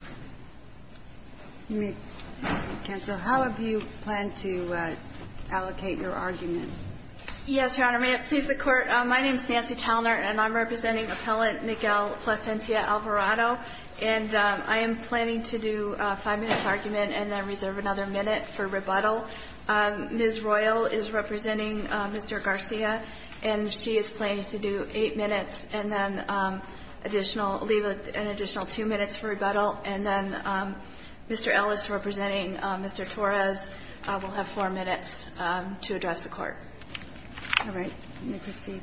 Nancy Talnert, Appellant, Plascencia-Alvarado, etc. And then Mr. Ellis, representing Mr. Torres, will have four minutes to address the Court. All right. Let me proceed.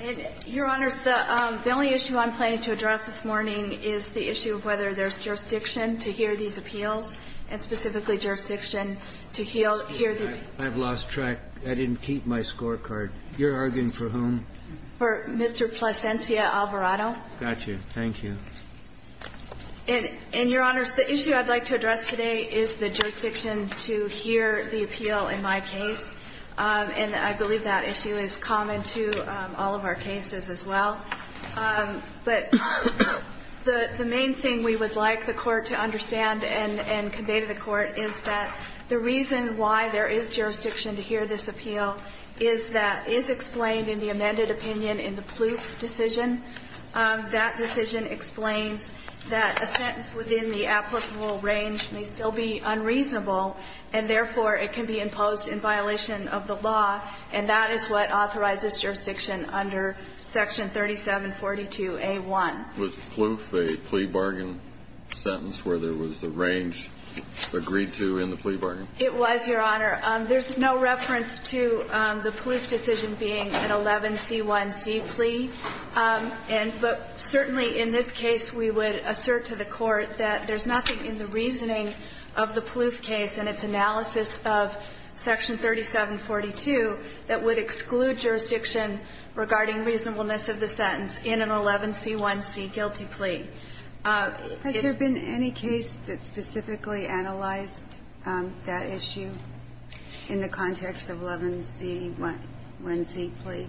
And, Your Honors, the only issue I'm planning to address this morning is the issue of whether there's jurisdiction to hear these appeals, and specifically jurisdiction to hear the appeals. I've lost track. I didn't keep my scorecard. You're arguing for whom? For Mr. Plascencia-Alvarado. Got you. Thank you. And, Your Honors, the issue I'd like to address today is the jurisdiction to hear the appeal in my case. And I believe that issue is common to all of our cases as well. But the main thing we would like the Court to understand and convey to the Court is that the reason why there is jurisdiction to hear this appeal is that is explained in the amended opinion in the Pluth decision. That decision explains that a sentence within the applicable range may still be unreasonable, and therefore, it can be imposed in violation of the law. And that is what authorizes jurisdiction under Section 3742A1. Was Pluth a plea bargain sentence where there was the range agreed to in the plea bargain? It was, Your Honor. And but certainly in this case, we would assert to the Court that there's nothing in the reasoning of the Pluth case and its analysis of Section 3742 that would exclude jurisdiction regarding reasonableness of the sentence in an 11c1c guilty plea. Has there been any case that specifically analyzed that issue in the context of 11c1c plea?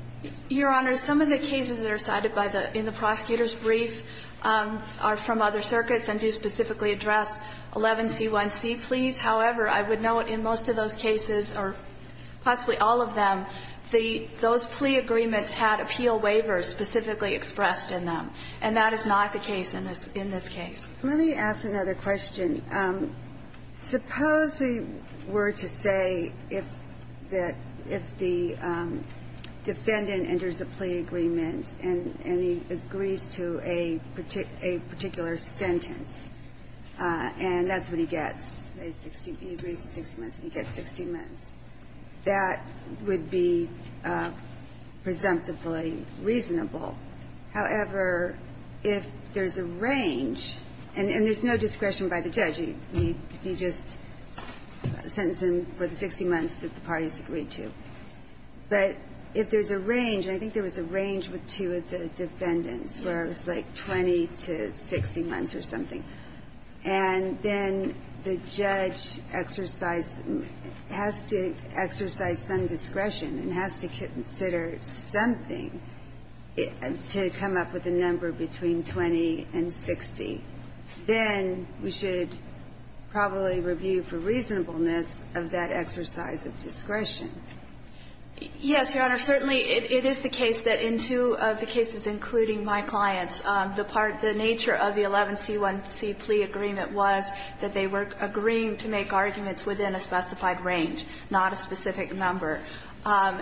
Your Honor, some of the cases that are cited by the the prosecutor's brief are from other circuits and do specifically address 11c1c pleas. However, I would note in most of those cases, or possibly all of them, those plea agreements had appeal waivers specifically expressed in them, and that is not the case in this case. Let me ask another question. Suppose we were to say that if the defendant enters a plea agreement and he agrees to a particular sentence, and that's what he gets, he agrees to 60 months and he gets 60 months, that would be presumptively reasonable. However, if there's a range, and there's no discretion by the judge, he just sentenced him for the 60 months that the parties agreed to. But if there's a range, and I think there was a range with two of the defendants, where it was like 20 to 60 months or something, and then the judge exercised the need, has to exercise some discretion and has to consider something, a decision to come up with a number between 20 and 60, then we should probably review for reasonableness of that exercise of discretion. Yes, Your Honor. Certainly, it is the case that in two of the cases, including my client's, the part of the nature of the 11c1c plea agreement was that they were agreeing to make arguments within a specified range, not a specific number.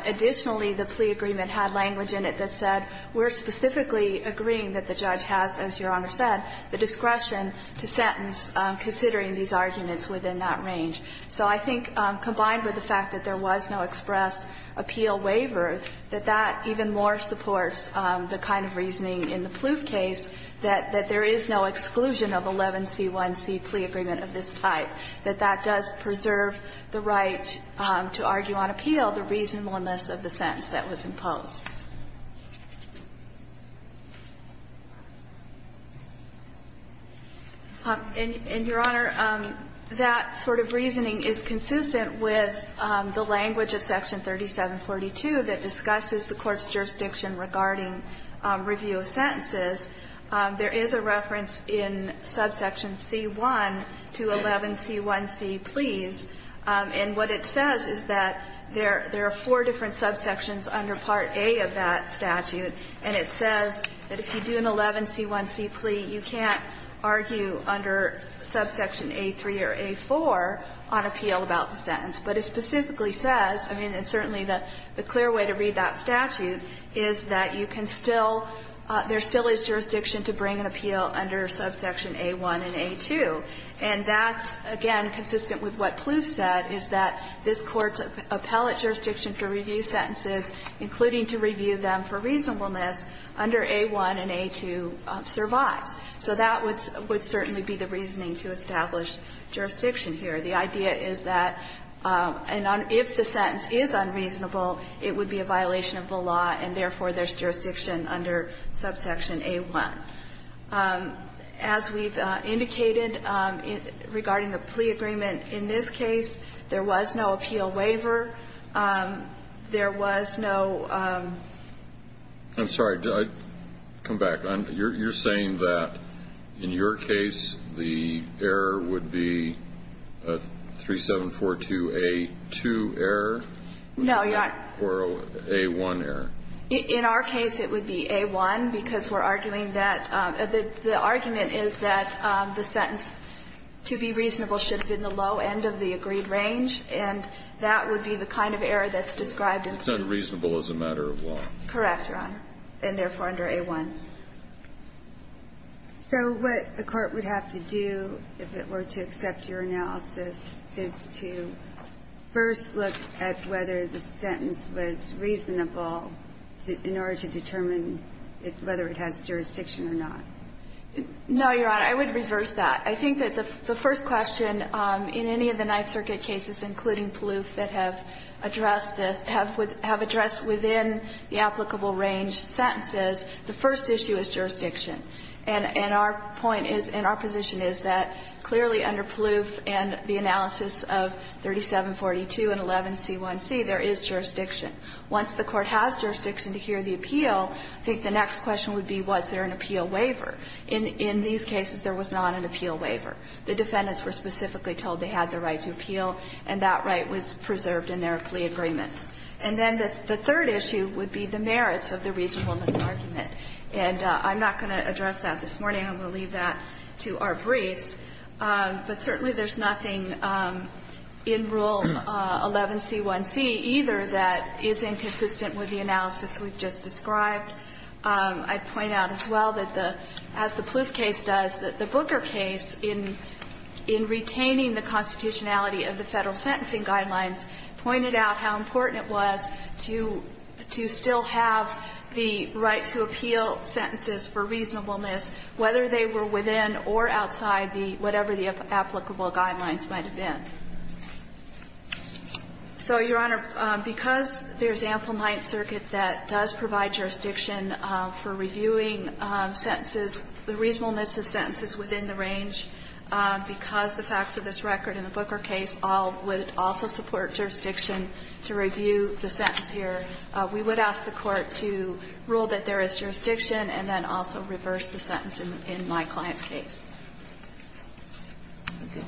Additionally, the plea agreement had language in it that said, we're specifically agreeing that the judge has, as Your Honor said, the discretion to sentence considering these arguments within that range. So I think, combined with the fact that there was no express appeal waiver, that that even more supports the kind of reasoning in the Plouffe case, that there is no exclusion of 11c1c plea agreement of this type, that that does preserve the right to argue on appeal, the reasonableness of the sentence that was imposed. And, Your Honor, that sort of reasoning is consistent with the language of Section 3742 that discusses the court's jurisdiction regarding review of sentences. There is a reference in subsection c1 to 11c1c pleas, and what it says is that the re are four different subsections under Part A of that statute, and it says that if you do an 11c1c plea, you can't argue under subsection a3 or a4 on appeal about the sentence. But it specifically says, I mean, it's certainly the clear way to read that statute, is that you can still, there still is jurisdiction to bring an appeal under subsection a1 and a2. And that's, again, consistent with what Plouffe said, is that this Court's appellate jurisdiction to review sentences, including to review them for reasonableness, under a1 and a2 survives. So that would certainly be the reasoning to establish jurisdiction here. The idea is that if the sentence is unreasonable, it would be a violation of the law, and therefore, there's jurisdiction under subsection a1. As we've indicated, regarding the plea agreement, in this case, there was no appeal waiver. There was no ‑‑ I'm sorry. Come back. You're saying that in your case, the error would be a3742a2 error? No. Or a1 error? In our case, it would be a1, because we're arguing that the argument is that the sentence, to be reasonable, should have been the low end of the agreed range, and that would be the kind of error that's described in ‑‑ It's unreasonable as a matter of law. Correct, Your Honor. And therefore, under a1. So what the Court would have to do, if it were to accept your analysis, is to first look at whether the sentence was reasonable in order to determine whether it has jurisdiction or not. No, Your Honor. I would reverse that. I think that the first question in any of the Ninth Circuit cases, including Palouf, that have addressed this, have addressed within the applicable range sentences, the first issue is jurisdiction. And our point is, and our position is, that clearly under Palouf and the analysis of 3742 and 11c1c, there is jurisdiction. Once the Court has jurisdiction to hear the appeal, I think the next question would be, was there an appeal waiver. In these cases, there was not an appeal waiver. The defendants were specifically told they had the right to appeal, and that right was preserved in their plea agreements. And then the third issue would be the merits of the reasonableness argument. And I'm not going to address that this morning. I'm going to leave that to our briefs. But certainly there's nothing in Rule 11c1c either that is inconsistent with the analysis we've just described. I'd point out as well that the as the Palouf case does, that the Booker case in retaining the constitutionality of the Federal sentencing guidelines pointed out how important it was to still have the right to appeal sentences for reasonableness, whether they were within or outside the whatever the applicable guidelines might have been. So, Your Honor, because there's ample Ninth Circuit that does provide jurisdiction for reviewing sentences, the reasonableness of sentences within the range, because the facts of this record in the Booker case all would also support jurisdiction to review the sentence here, we would ask the Court to rule that there is jurisdiction and then also reverse the sentence in my client's case. Thank you.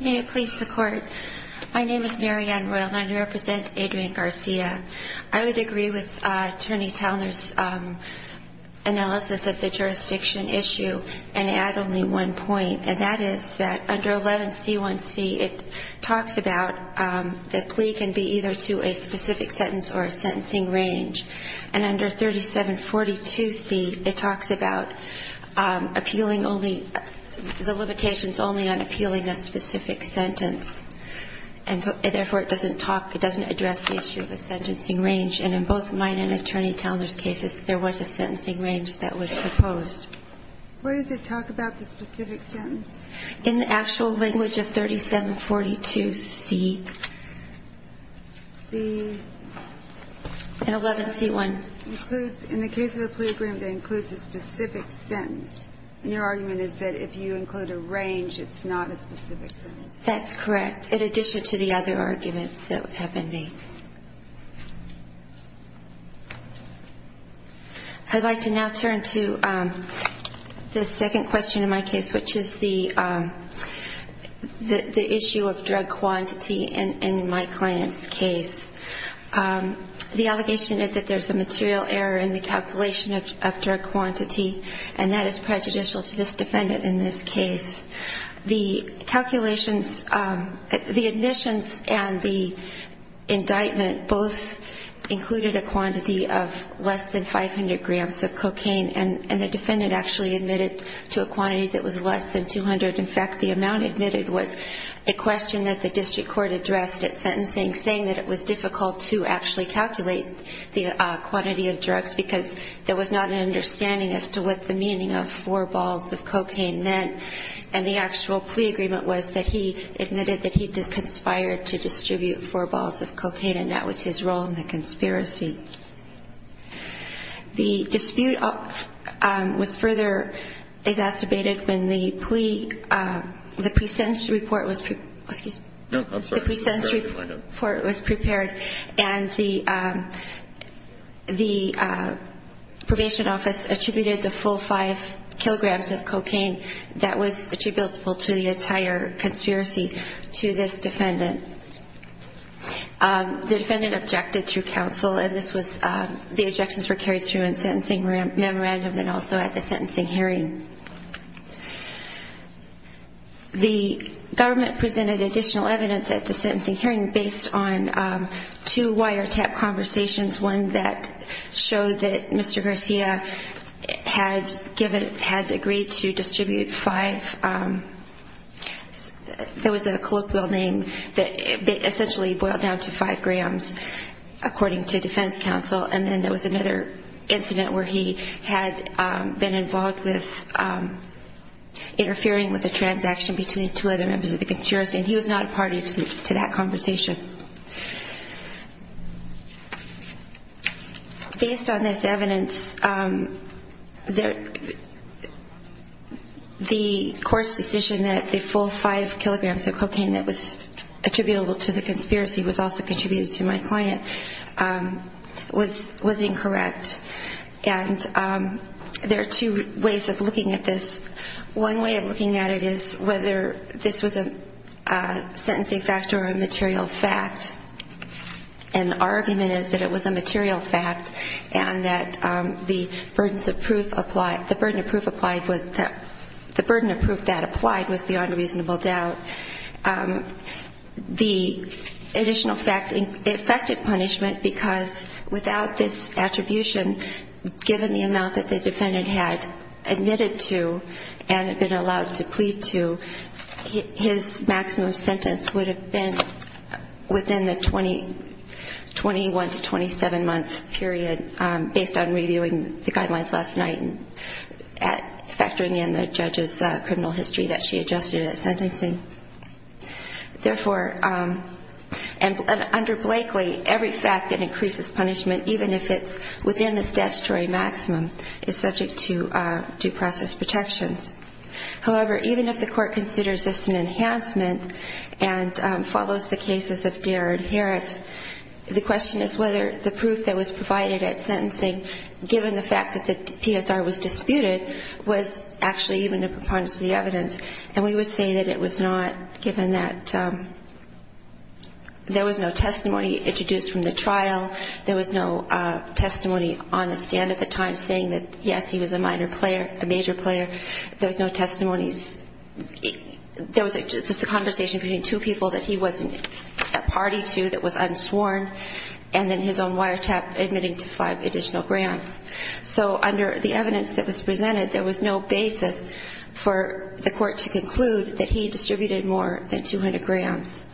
May it please the Court. My name is Mary Ann Royal and I represent Adrian Garcia. I would agree with Attorney Towner's analysis of the jurisdiction issue and add only one point, and that is that under 11C1C it talks about the plea can be either to a specific sentence or a sentencing range. And under 3742C it talks about appealing only, the limitations only on appealing a specific sentence, and therefore it doesn't talk, it doesn't address the issue of a sentencing range. And in both mine and Attorney Towner's cases, there was a sentencing range that was proposed. Where does it talk about the specific sentence? In the actual language of 3742C. And 11C1? In the case of a plea agreement that includes a specific sentence. And your argument is that if you include a range, it's not a specific sentence. That's correct, in addition to the other arguments that have been made. I'd like to now turn to the second question in my case, which is the issue of drug quantity in my client's case. The allegation is that there's a material error in the calculation of drug quantity, and that is prejudicial to this defendant in this case. The calculations, the admissions and the indictment both included a quantity of less than 500 grams of cocaine, and the defendant actually admitted to a quantity that was less than 200. In fact, the amount admitted was a question that the district court addressed at sentencing, saying that it was difficult to actually calculate the quantity of drugs, because there was not an understanding as to what the meaning of four balls of cocaine meant, and the actual plea agreement was that he admitted that he conspired to distribute four balls of cocaine, and that was his role in the conspiracy. The dispute was further exacerbated when the plea, the pre-sentence report was prepared, and the probation office attributed the full five kilograms of cocaine that was attributable to the entire conspiracy to this defendant. The defendant objected to counsel, and this was, the objections were carried through in sentencing memorandum and also at the sentencing hearing. The government presented additional evidence at the sentencing hearing based on two wiretap conversations, one that showed that Mr. Garcia had given, had agreed to distribute five, there was a colloquial name that essentially boiled down to five grams, according to defense counsel, and then there was another incident where he had been involved with interfering with a transaction between two other members of the conspiracy, and he was not a party to that conversation. Based on this evidence, the court's decision that the full five kilograms of cocaine that was attributable to the conspiracy was also contributed to my client was incorrect, and there are two ways of looking at this. One way of looking at it is whether this was a sentencing factor or a material fact, and our argument is that it was a material fact, and that the burden of proof applied was beyond reasonable doubt. The additional fact affected punishment, because without this attribution, given the amount that the defendant had admitted to and been allowed to plead to, his maximum sentence would have been within the 21 to 27-month period, based on reviewing the guidelines last night and factoring in the judge's criminal history that she adjusted at sentencing. Therefore, under Blakely, every fact that increases punishment, even if it's within the statutory maximum, is subject to due process protections. However, even if the court considers this an enhancement and follows the cases of Darren Harris, the question is whether the proof that was provided at sentencing given the fact that the PSR was disputed was actually even a preponderance of the evidence, and we would say that it was not, given that there was no testimony introduced from the trial, there was no testimony on the stand at the time saying that, yes, he was a minor player, a major player, there was no testimonies. There was just a conversation between two people that he was a party to that was unsworn, and then his own wiretap admitting to 5 additional grams. So under the evidence that was presented, there was no basis for the court to conclude that he distributed more than 200 grams.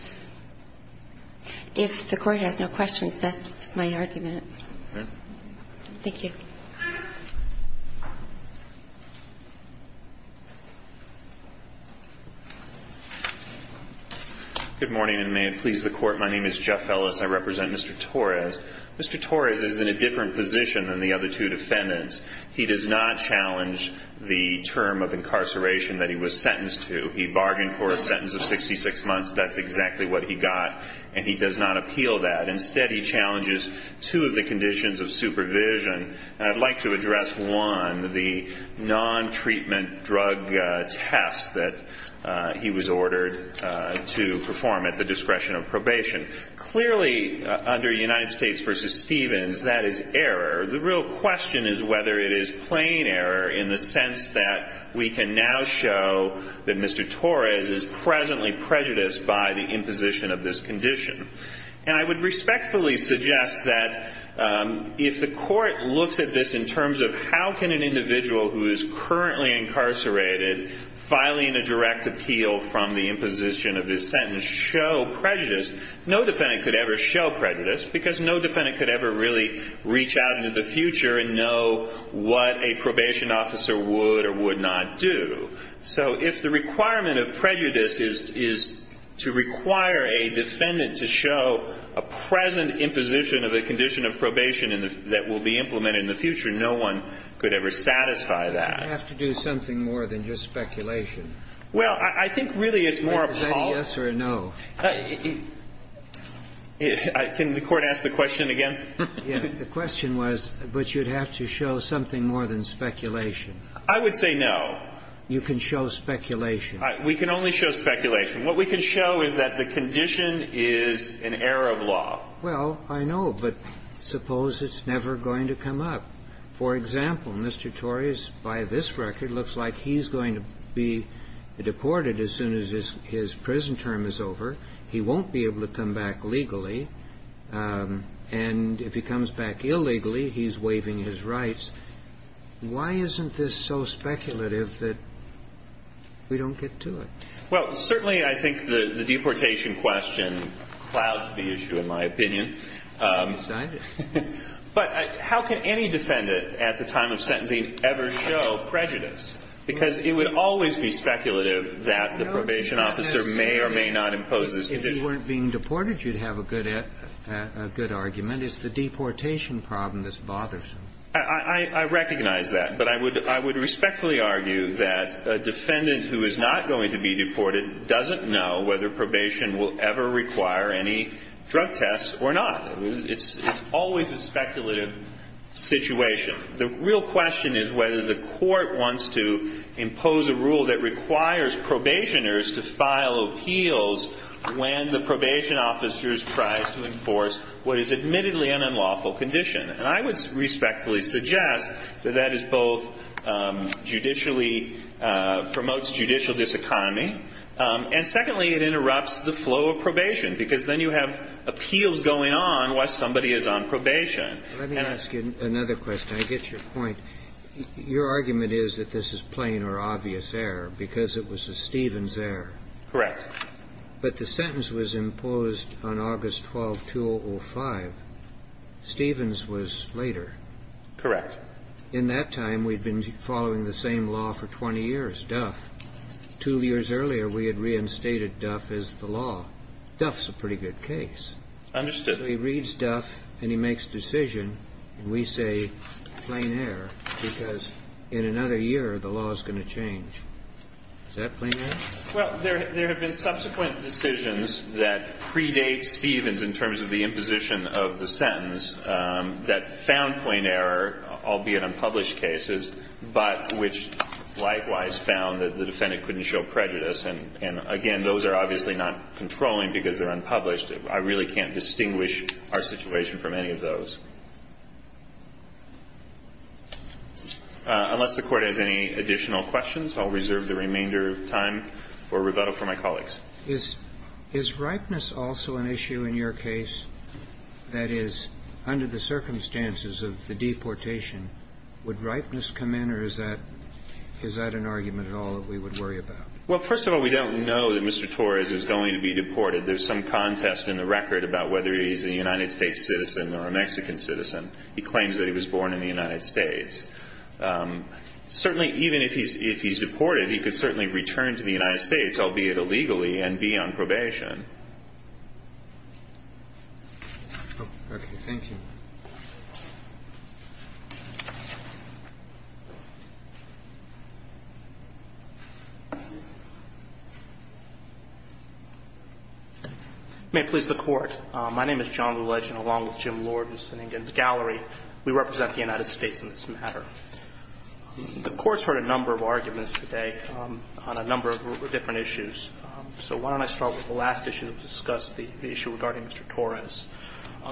If the Court has no questions, that's my argument. Thank you. Good morning, and may it please the Court. My name is Jeff Ellis. I represent Mr. Torres. Mr. Torres is in a different position than the other two defendants. He does not challenge the term of incarceration that he was sentenced to. He bargained for a sentence of 66 months. That's exactly what he got, and he does not appeal that. Instead, he challenges two of the conditions of supervision. And I'd like to address, one, the non-treatment drug test that he was ordered to perform at the discretion of probation. Clearly, under United States v. Stevens, that is error. The real question is whether it is plain error in the sense that we can now show that Mr. Torres is presently prejudiced by the imposition of this condition. And I would respectfully suggest that if the Court looks at this in terms of how can an individual who is currently incarcerated filing a direct appeal from the imposition of this sentence show prejudice, no defendant could ever show prejudice because no defendant could ever really reach out into the future and know what a probation officer would or would not do. So if the requirement of prejudice is to require a defendant to show a present imposition of a condition of probation that will be implemented in the future, no one could ever satisfy that. You'd have to do something more than just speculation. Well, I think really it's more appalling. Would you say yes or no? Can the Court ask the question again? Yes. The question was, but you'd have to show something more than speculation. I would say no. You can show speculation. We can only show speculation. What we can show is that the condition is an error of law. Well, I know. But suppose it's never going to come up. For example, Mr. Torres, by this record, looks like he's going to be deported as soon as his prison term is over. He won't be able to come back legally. And if he comes back illegally, he's waiving his rights. Why isn't this so speculative that we don't get to it? Well, certainly I think the deportation question clouds the issue, in my opinion. But how can any defendant at the time of sentencing ever show prejudice? Because it would always be speculative that the probation officer may or may not impose this condition. If he weren't being deported, you'd have a good argument. It's the deportation problem that's bothersome. I recognize that. But I would respectfully argue that a defendant who is not going to be deported doesn't know whether probation will ever require any drug tests or not. It's always a speculative situation. The real question is whether the court wants to impose a rule that requires probationers to file appeals when the probation officer is tried to enforce what is admittedly an unlawful condition. And I would respectfully suggest that that is both judicially, promotes judicial diseconomy, and secondly, it interrupts the flow of probation, because then you have appeals going on while somebody is on probation. And I... Let me ask you another question. I get your point. Your argument is that this is plain or obvious error because it was a Stevens error. Correct. But the sentence was imposed on August 12, 2005. Stevens was later. Correct. In that time, we'd been following the same law for 20 years, Duff. Two years earlier, we had reinstated Duff as the law. Duff's a pretty good case. Understood. So he reads Duff, and he makes a decision, and we say plain error because in another year, the law is going to change. Is that plain error? Well, there have been subsequent decisions that predate Stevens in terms of the imposition of the sentence that found plain error, albeit unpublished cases, but which likewise found that the defendant couldn't show prejudice. And, again, those are obviously not controlling because they're unpublished. I really can't distinguish our situation from any of those. Unless the Court has any additional questions, I'll reserve the remainder of time for my colleague or rebuttal for my colleagues. Is ripeness also an issue in your case? That is, under the circumstances of the deportation, would ripeness come in, or is that an argument at all that we would worry about? Well, first of all, we don't know that Mr. Torres is going to be deported. There's some contest in the record about whether he's a United States citizen or a Mexican citizen. He claims that he was born in the United States. Certainly, even if he's deported, he could certainly return to the United States, albeit illegally, and be on probation. Okay. Thank you. May it please the Court. My name is John Lilledge, and along with Jim Lord, who's sitting in the gallery, we represent the United States in this matter. The Court's heard a number of arguments today on a number of different issues, so why don't I start with the last issue to discuss the issue regarding Mr. Torres.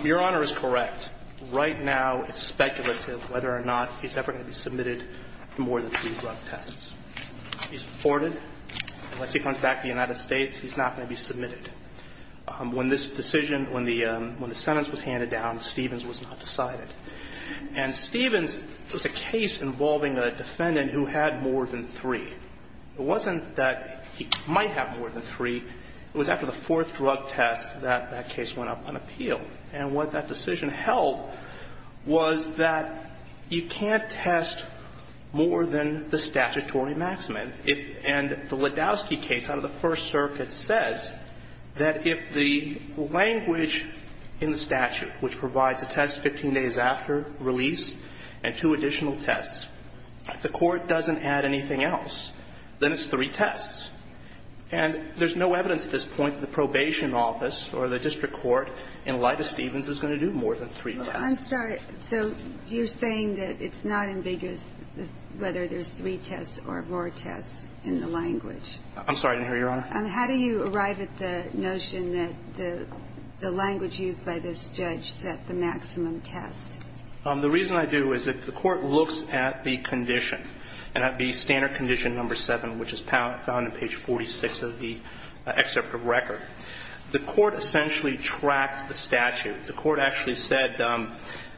Your Honor is correct. Right now it's speculative whether or not he's ever going to be submitted for more than three drug tests. He's deported. Unless he comes back to the United States, he's not going to be submitted. When this decision, when the sentence was handed down, Stevens was not decided. And Stevens was a case involving a defendant who had more than three. It wasn't that he might have more than three. It was after the fourth drug test that that case went up on appeal. And what that decision held was that you can't test more than the statutory maximum. And the Ledowski case out of the First Circuit says that if the language in the statute, which provides a test 15 days after release and two additional tests, the Court doesn't add anything else, then it's three tests. And there's no evidence at this point that the probation office or the district court, in light of Stevens, is going to do more than three tests. I'm sorry. So you're saying that it's not ambiguous whether there's three tests or more tests in the language. I'm sorry. I didn't hear you, Your Honor. How do you arrive at the notion that the language used by this judge set the maximum test? The reason I do is that the Court looks at the condition, and that would be standard condition number 7, which is found on page 46 of the excerpt of record. The Court essentially tracked the statute. The Court actually said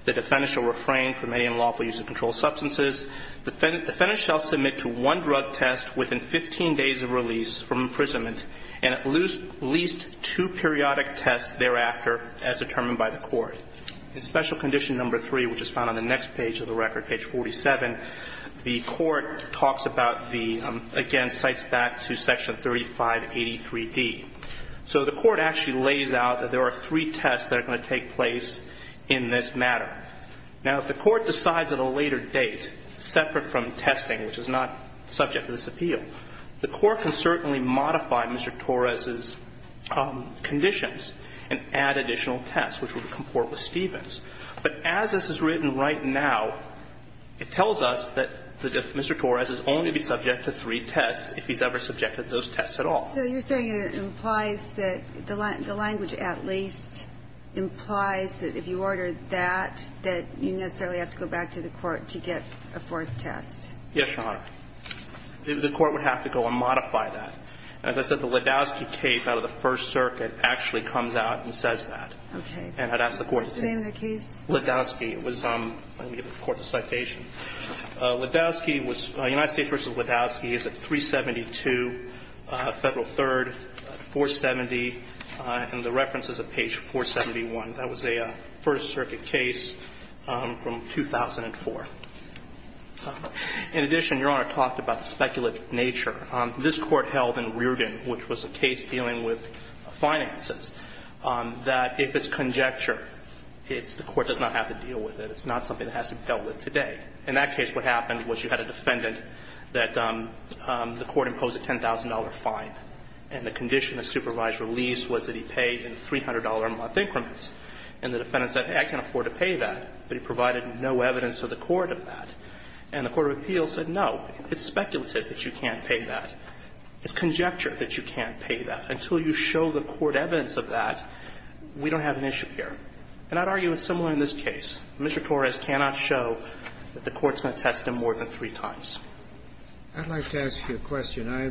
the defendant shall refrain from any unlawful use of controlled substances. The defendant shall submit to one drug test within 15 days of release from imprisonment and at least two periodic tests thereafter as determined by the Court. In special condition number 3, which is found on the next page of the record, page 47, the Court talks about the, again, cites that to section 3583D. So the Court actually lays out that there are three tests that are going to take place in this matter. Now, if the Court decides at a later date, separate from testing, which is not subject to this appeal, the Court can certainly modify Mr. Torres's conditions and add additional tests, which would comport with Stevens. But as this is written right now, it tells us that Mr. Torres is only to be subject to three tests if he's ever subjected to those tests at all. So you're saying it implies that the language at least implies that if you order that, that you necessarily have to go back to the Court to get a fourth test? Yes, Your Honor. The Court would have to go and modify that. And as I said, the Ledowski case out of the First Circuit actually comes out and says that. Okay. And I'd ask the Court to take that. What's the name of the case? Ledowski. It was on the Court's citation. Ledowski was United States v. Ledowski is at 372 Federal 3rd, 470, and the reference is at page 471. That was a First Circuit case from 2004. In addition, Your Honor talked about the speculative nature. This Court held in Rearden, which was a case dealing with finances, that if it's conjecture, it's the Court does not have to deal with it. It's not something that has to be dealt with today. In that case, what happened was you had a defendant that the Court imposed a $10,000 fine, and the condition of supervised release was that he pay in $300 a month increments. And the defendant said, I can't afford to pay that, but he provided no evidence to the Court of that. And the Court of Appeals said, no, it's speculative that you can't pay that. It's conjecture that you can't pay that. Until you show the Court evidence of that, we don't have an issue here. And I'd argue it's similar in this case. Mr. Torres cannot show that the Court's going to test him more than three times. I'd like to ask you a question. I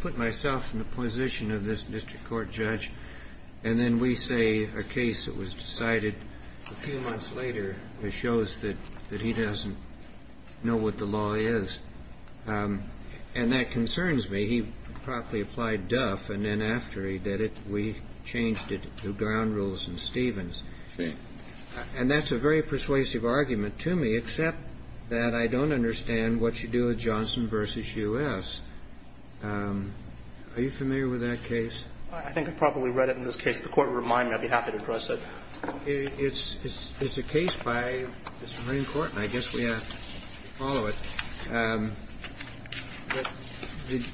put myself in the position of this district court judge, and then we say a case that was decided a few months later that shows that he doesn't know what the law is. And that concerns me. He promptly applied Duff, and then after he did it, we changed it to Ground Rules and Stevens. And that's a very persuasive argument to me, except that I don't understand what you do with Johnson v. U.S. Are you familiar with that case? I think I've probably read it in this case. If the Court would remind me, I'd be happy to address it. It's a case by the Supreme Court, and I guess we ought to follow it.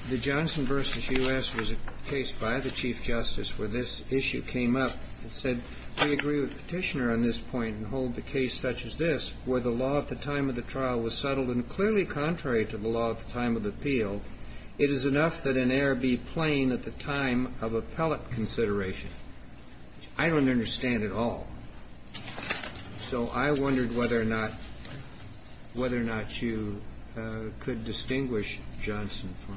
The Johnson v. U.S. was a case by the Chief Justice where this issue came up. It said, we agree with the Petitioner on this point and hold the case such as this where the law at the time of the trial was settled and clearly contrary to the law at the time of the appeal, it is enough that an error be plain at the time of appellate consideration. I don't understand at all. So I wondered whether or not you could distinguish Johnson for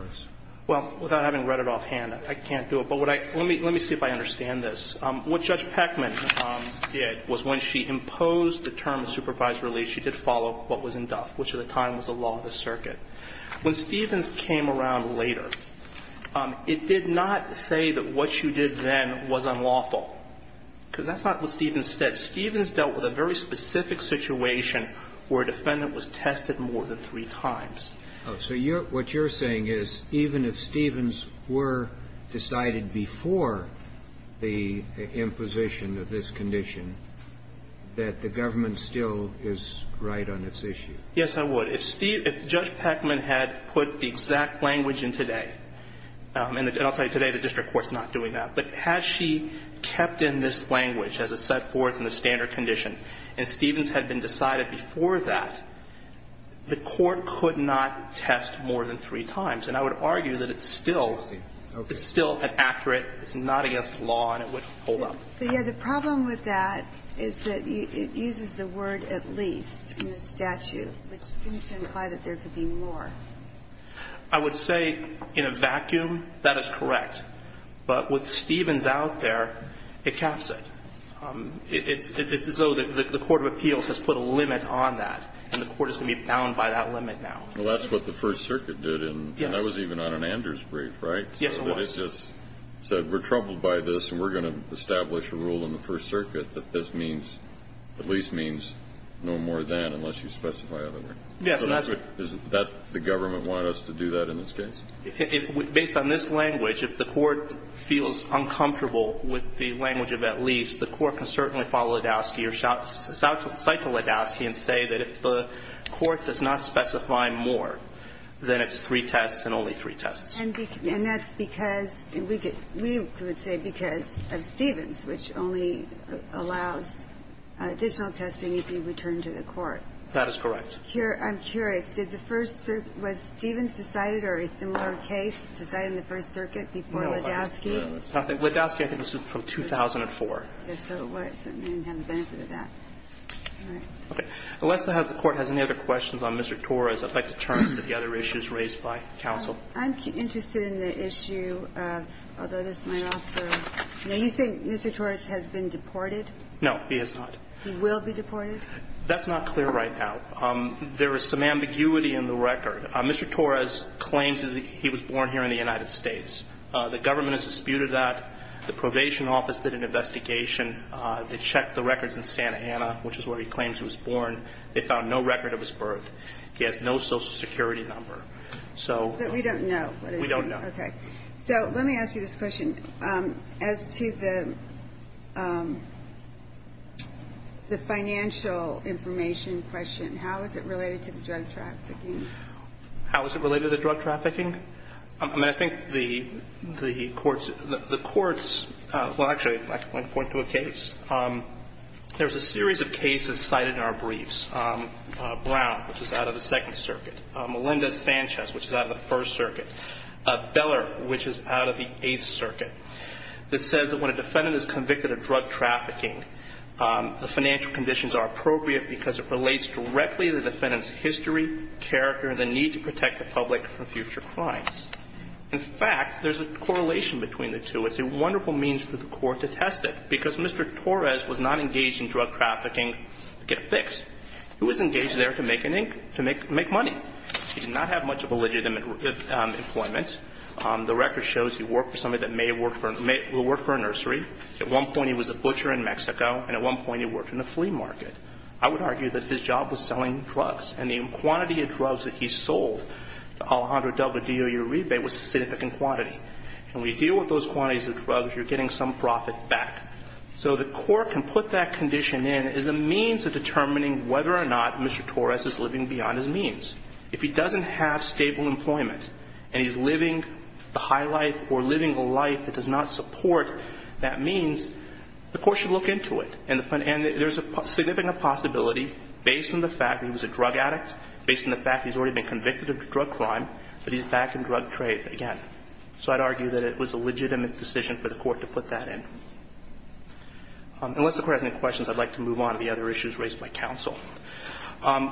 us. Well, without having read it offhand, I can't do it. But let me see if I understand this. What Judge Peckman did was when she imposed the term of supervised release, she did follow what was in Duff, which at the time was the law of the circuit. When Stevens came around later, it did not say that what she did then was unlawful because that's not what Stevens said. Stevens dealt with a very specific situation where a defendant was tested more than three times. So what you're saying is even if Stevens were decided before the imposition of this condition, that the government still is right on its issue? Yes, I would. If Judge Peckman had put the exact language in today, and I'll tell you today the district court's not doing that, but has she kept in this language as it's set forth in the standard condition, and Stevens had been decided before that, the court could not test more than three times. And I would argue that it's still an accurate, it's not against the law, and it would hold up. But, yeah, the problem with that is that it uses the word at least in the statute, which seems to imply that there could be more. I would say in a vacuum that is correct. But with Stevens out there, it caps it. It's as though the court of appeals has put a limit on that, and the court is going to be bound by that limit now. Well, that's what the First Circuit did. Yes. And that was even on an Anders brief, right? Yes, it was. So it just said we're troubled by this, and we're going to establish a rule in the First Circuit that this means, at least means no more than, unless you specify otherwise. Yes. So that's what the government wanted us to do that in this case? Based on this language, if the court feels uncomfortable with the language of at least, the court can certainly follow Ladowski or cite to Ladowski and say that if the court does not specify more, then it's three tests and only three tests. And that's because we could say because of Stevens, which only allows additional testing if you return to the court. That is correct. I'm curious. Did the First Circuit – was Stevens decided or a similar case decided in the First Circuit before Ladowski? Ladowski, I think, was from 2004. Yes. So it certainly didn't have the benefit of that. All right. Okay. Unless the Court has any other questions on Mr. Torres, I'd like to turn to the other issues raised by counsel. I'm interested in the issue of, although this might also – now, you say Mr. Torres has been deported? No, he has not. He will be deported? That's not clear right now. There is some ambiguity in the record. Mr. Torres claims that he was born here in the United States. The government has disputed that. The probation office did an investigation. They checked the records in Santa Ana, which is where he claims he was born. They found no record of his birth. He has no Social Security number. But we don't know. We don't know. Okay. So let me ask you this question. As to the financial information question, how is it related to the drug trafficking? How is it related to the drug trafficking? I mean, I think the Court's – well, actually, I can point to a case. There's a series of cases cited in our briefs. Brown, which is out of the Second Circuit. Melendez-Sanchez, which is out of the First Circuit. Beller, which is out of the Eighth Circuit. It says that when a defendant is convicted of drug trafficking, the financial conditions are appropriate because it relates directly to the defendant's history, character, and the need to protect the public from future crimes. In fact, there's a correlation between the two. It's a wonderful means for the Court to test it, because Mr. Torres was not engaged in drug trafficking to get a fix. He was engaged there to make money. He did not have much of a legitimate employment. The record shows he worked for somebody that may have worked for – who worked for a nursery. At one point he was a butcher in Mexico, and at one point he worked in a flea market. I would argue that his job was selling drugs. And the quantity of drugs that he sold to Alejandro Delgadillo Uribe was a significant quantity. When you deal with those quantities of drugs, you're getting some profit back. So the Court can put that condition in as a means of determining whether or not Mr. Torres is living beyond his means. If he doesn't have stable employment and he's living the high life or living a life that does not support that means, the Court should look into it. And there's a significant possibility, based on the fact that he was a drug addict, based on the fact that he's already been convicted of drug crime, that he's back in drug trade again. So I'd argue that it was a legitimate decision for the Court to put that in. Unless the Court has any questions, I'd like to move on to the other issues raised by counsel.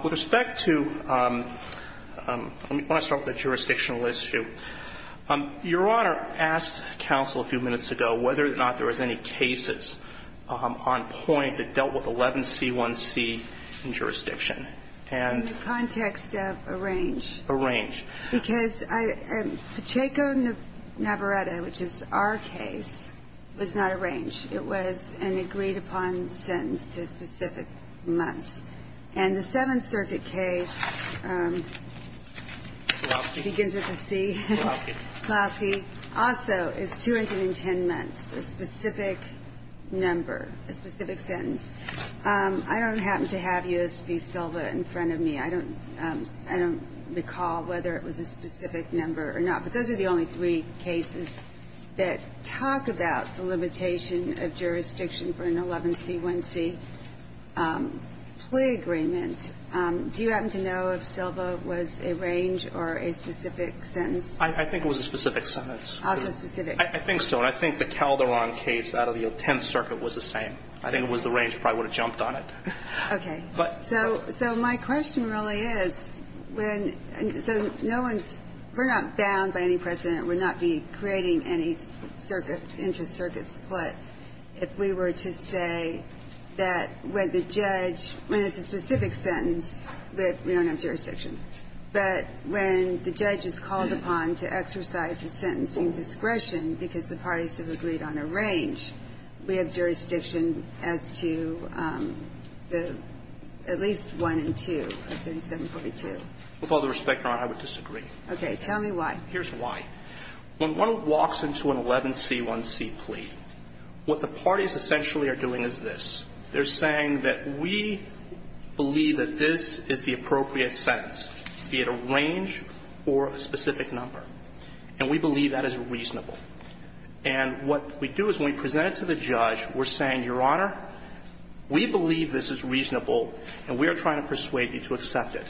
With respect to – let me start with the jurisdictional issue. Your Honor asked counsel a few minutes ago whether or not there was any cases on point that dealt with 11C1C in jurisdiction. And the context of a range. A range. Because Pacheco-Navarrette, which is our case, was not a range. It was an agreed-upon sentence to specific months. And the Seventh Circuit case begins with a C. Klosky. Klosky. Klosky also is 210 months, a specific number, a specific sentence. I don't happen to have U.S. v. Silva in front of me. I don't recall whether it was a specific number or not. But those are the only three cases that talk about the limitation of jurisdiction for an 11C1C plea agreement. Do you happen to know if Silva was a range or a specific sentence? I think it was a specific sentence. Also specific. I think so. And I think the Calderon case out of the Tenth Circuit was the same. I think it was a range. I probably would have jumped on it. Okay. So my question really is, when – so no one's – we're not bound by any precedent. We're not creating any circuit, interest circuit split. If we were to say that when the judge – when it's a specific sentence, we don't have jurisdiction. But when the judge is called upon to exercise a sentencing discretion because the parties have agreed on a range, we have jurisdiction as to the – at least one and two of 3742. With all due respect, Your Honor, I would disagree. Okay. Tell me why. Here's why. When one walks into an 11C1C plea, what the parties essentially are doing is this. They're saying that we believe that this is the appropriate sentence, be it a range or a specific number. And we believe that is reasonable. And what we do is when we present it to the judge, we're saying, Your Honor, we believe this is reasonable and we are trying to persuade you to accept it.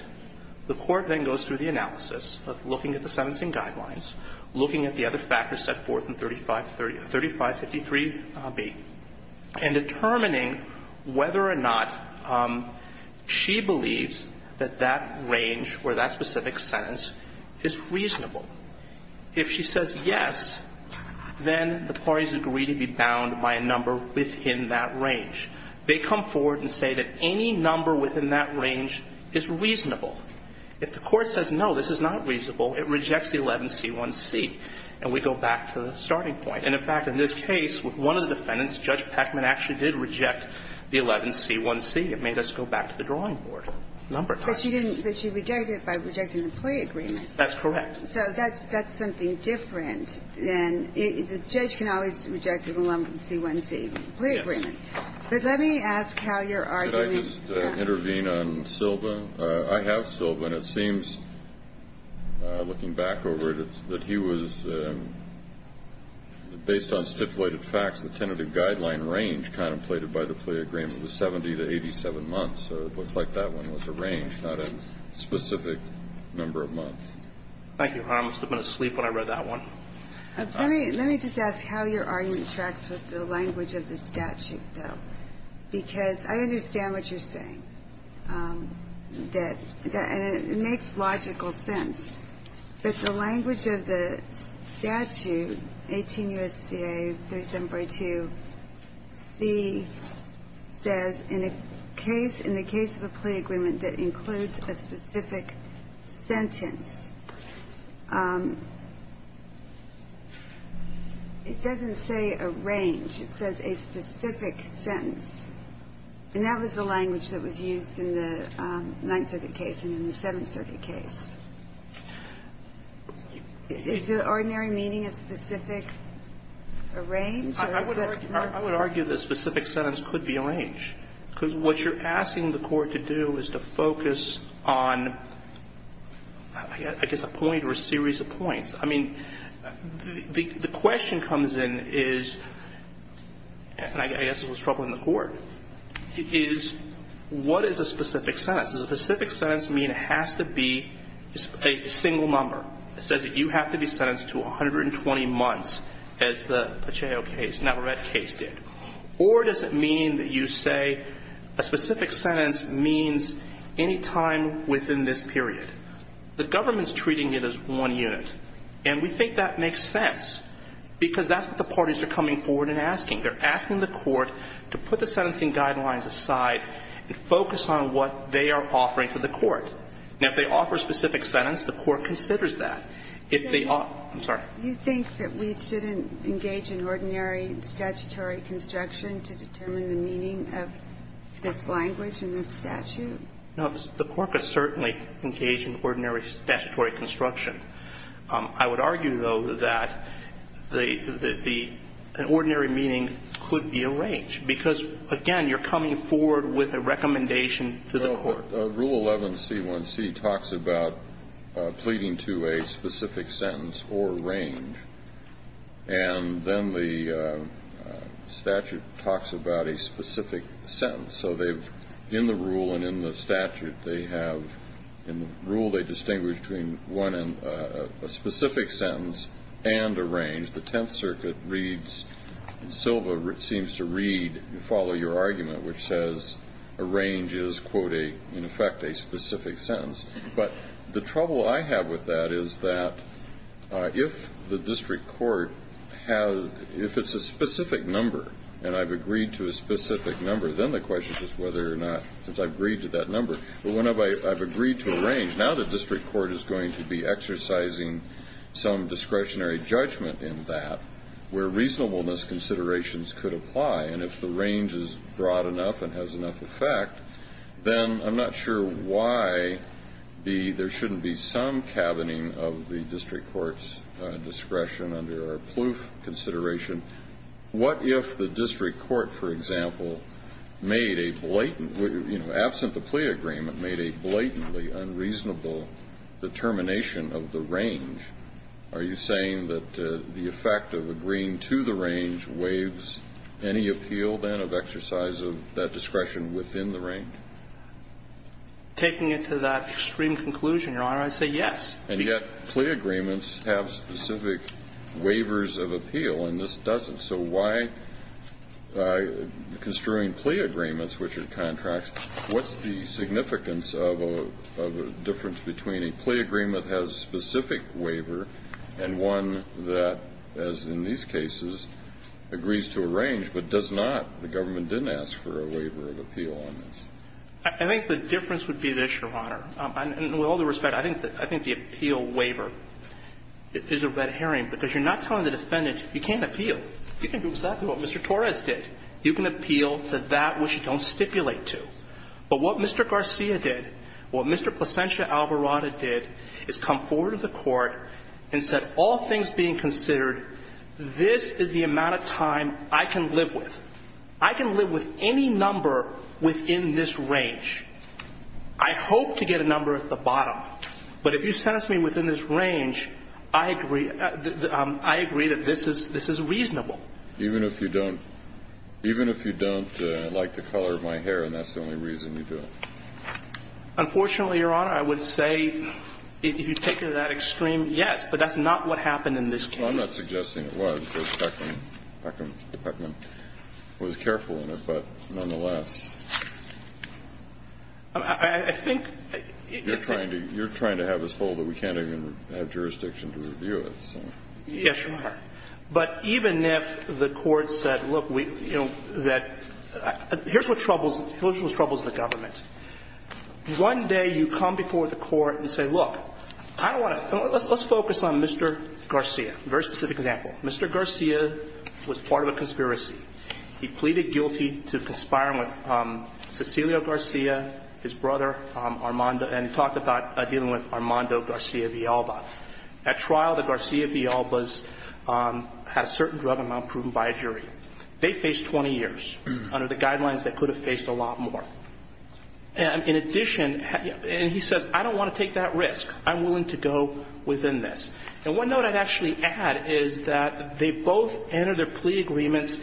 The court then goes through the analysis of looking at the sentencing guidelines, looking at the other factors set forth in 3533B, and determining whether or not she believes that that range or that specific sentence is reasonable. If she says yes, then the parties agree to be bound by a number within that range. They come forward and say that any number within that range is reasonable. If the court says, no, this is not reasonable, it rejects the 11C1C. And we go back to the starting point. And, in fact, in this case, with one of the defendants, Judge Peckman actually did reject the 11C1C. It made us go back to the drawing board a number of times. But she didn't. But she rejected it by rejecting the plea agreement. That's correct. So that's something different than the judge can always reject an 11C1C plea agreement. Yes. But let me ask how you're arguing that. Could I just intervene on Silva? I have Silva. And it seems, looking back over it, that he was, based on stipulated facts, the tentative guideline range contemplated by the plea agreement was 70 to 87 months. So it looks like that one was a range, not a specific number of months. Thank you, Your Honor. I must have been asleep when I read that one. Let me just ask how your argument tracks with the language of the statute, though. Because I understand what you're saying. And it makes logical sense. But the language of the statute, 18 U.S.C.A. 37.2C, says, in the case of a plea agreement that includes a specific sentence, it doesn't say a range. It says a specific sentence. And that was the language that was used in the Ninth Circuit case and in the Seventh Circuit case. Is the ordinary meaning of specific a range, or is it not? I would argue that specific sentence could be a range. Because what you're asking the court to do is to focus on, I guess, a point or a series of points. I mean, the question comes in is, and I guess this was troubling the court, is what is a specific sentence? Does a specific sentence mean it has to be a single number? It says that you have to be sentenced to 120 months as the Pacheco case, Navarrete case did. Or does it mean that you say a specific sentence means any time within this period? The government is treating it as one unit. And we think that makes sense, because that's what the parties are coming forward and asking. They're asking the court to put the sentencing guidelines aside and focus on what they are offering to the court. Now, if they offer a specific sentence, the court considers that. If they offer the court. I'm sorry. Do you think that we shouldn't engage in ordinary statutory construction to determine the meaning of this language and this statute? No. The court could certainly engage in ordinary statutory construction. I would argue, though, that the ordinary meaning could be a range, because, again, you're coming forward with a recommendation to the court. Rule 11C1C talks about pleading to a specific sentence or range. And then the statute talks about a specific sentence. So they've, in the rule and in the statute, they have, in the rule they distinguish between a specific sentence and a range. The Tenth Circuit reads, and Silva seems to read and follow your argument, which says a range is, quote, in effect, a specific sentence. But the trouble I have with that is that if the district court has, if it's a specific number, and I've agreed to a specific number, then the question is whether or not, since I've agreed to that number, but whenever I've agreed to a range, now the district court is going to be exercising some discretionary judgment in that where reasonableness considerations could apply. And if the range is broad enough and has enough effect, then I'm not sure why there shouldn't be some cabining of the district court's discretion under our Plouffe consideration. What if the district court, for example, made a blatant, you know, absent the plea agreement, made a blatantly unreasonable determination of the range? Are you saying that the effect of agreeing to the range waives any appeal, then, of exercise of that discretion within the range? Taking it to that extreme conclusion, Your Honor, I'd say yes. And yet plea agreements have specific waivers of appeal, and this doesn't. So why, construing plea agreements, which are contracts, what's the significance of a difference between a plea agreement that has a specific waiver and one that, as in these cases, agrees to a range, but does not, the government didn't ask for a waiver of appeal on this? I think the difference would be this, Your Honor. With all due respect, I think the appeal waiver is a red herring, because you're not telling the defendant you can't appeal. You can do exactly what Mr. Torres did. You can appeal to that which you don't stipulate to. But what Mr. Garcia did, what Mr. Placencia Alvarado did, is come forward to the court and said all things being considered, this is the amount of time I can live I can live with any number within this range. I hope to get a number at the bottom, but if you sentence me within this range, I agree, I agree that this is reasonable. Even if you don't, even if you don't like the color of my hair and that's the only reason you do it? Unfortunately, Your Honor, I would say if you take it to that extreme, yes. But that's not what happened in this case. Well, I'm not suggesting it was, because Beckman was careful in it, but nonetheless. I think you're trying to have us hold that we can't even have jurisdiction to review it. Yes, Your Honor. But even if the court said, look, here's what troubles the government. One day you come before the court and say, look, I don't want to – let's focus on Mr. Garcia, a very specific example. Mr. Garcia was part of a conspiracy. He pleaded guilty to conspiring with Cecilio Garcia, his brother, Armando, and talked about dealing with Armando Garcia Villalba. At trial, the Garcia Villalbas had a certain drug amount proven by a jury. They faced 20 years under the guidelines they could have faced a lot more. In addition – and he says, I don't want to take that risk. I'm willing to go within this. And one note I'd actually add is that they both entered their plea agreements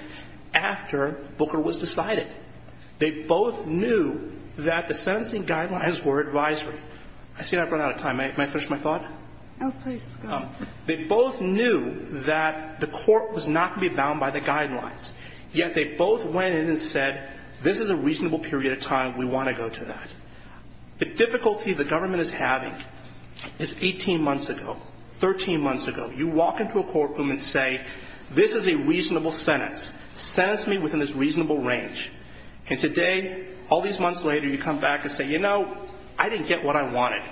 after Booker was decided. They both knew that the sentencing guidelines were advisory. I see I've run out of time. May I finish my thought? Oh, please. They both knew that the court was not going to be bound by the guidelines, yet they both went in and said, this is a reasonable period of time. We want to go to that. The difficulty the government is having is 18 months ago, 13 months ago, you walk into a courtroom and say, this is a reasonable sentence. Sentence me within this reasonable range. And today, all these months later, you come back and say, you know, I didn't get what I wanted.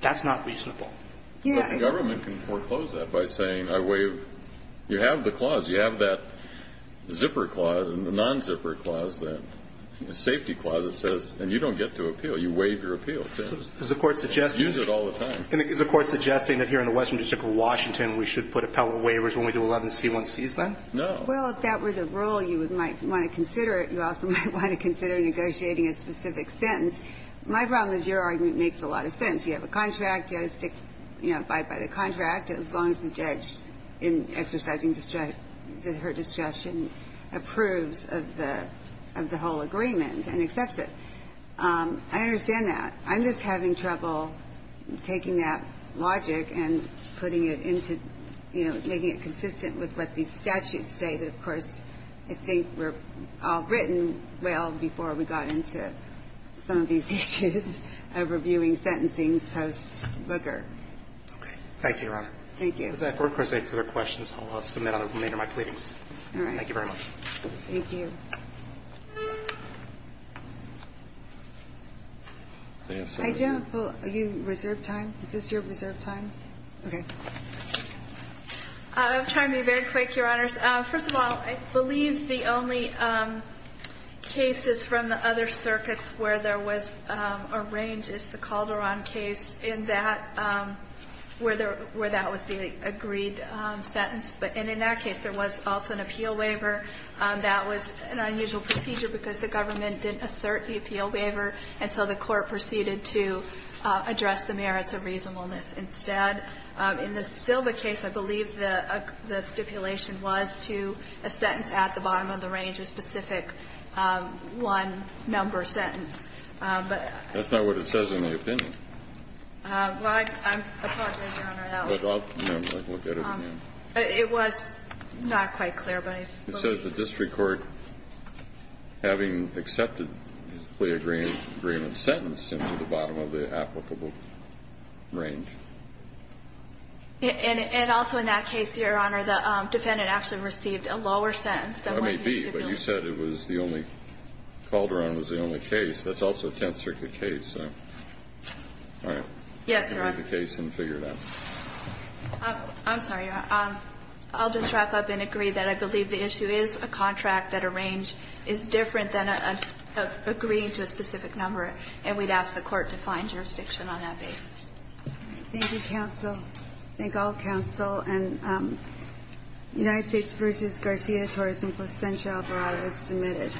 That's not reasonable. The government can foreclose that by saying, I waive. You have the clause. You have that zipper clause, the non-zipper clause, the safety clause that says, and you don't get to appeal. You waive your appeal. Use it all the time. Is the court suggesting that here in the Western District of Washington, we should put appellate waivers when we do 11 C1Cs then? No. Well, if that were the rule, you might want to consider it. You also might want to consider negotiating a specific sentence. My problem is your argument makes a lot of sense. You have a contract. You've got to stick, you know, by the contract as long as the judge in exercising her discretion approves of the whole agreement and accepts it. I understand that. I'm just having trouble taking that logic and putting it into, you know, making it consistent with what these statutes say that, of course, I think were all written well before we got into some of these issues of reviewing sentencings post booger. Okay. Thank you, Your Honor. Thank you. If there's any further questions, I'll submit on the remainder of my pleadings. All right. Thank you very much. Thank you. I do have a poll. Are you reserved time? Is this your reserved time? Okay. I'll try to be very quick, Your Honors. First of all, I believe the only cases from the other circuits where there was a range is the Calderon case in that, where that was the agreed sentence. And in that case, there was also an appeal waiver. That was an unusual procedure because the government didn't assert the appeal waiver, and so the court proceeded to address the merits of reasonableness instead. In the Silva case, I believe the stipulation was to a sentence at the bottom of the range, a specific one-number sentence. That's not what it says in the opinion. Well, I apologize, Your Honor. I'll look at it again. It was not quite clear. It says the district court, having accepted his plea agreement, sentenced him to the bottom of the applicable range. And also in that case, Your Honor, the defendant actually received a lower sentence than what he stipulated. But you said it was the only, Calderon was the only case. That's also a Tenth Circuit case. All right. Yes, Your Honor. I'll read the case and figure it out. I'm sorry, Your Honor. I'll just wrap up and agree that I believe the issue is a contract that a range is different than agreeing to a specific number. And we'd ask the court to find jurisdiction on that basis. Thank you, counsel. Thank all counsel. And United States v. Garcia, torus implicantia operati was submitted.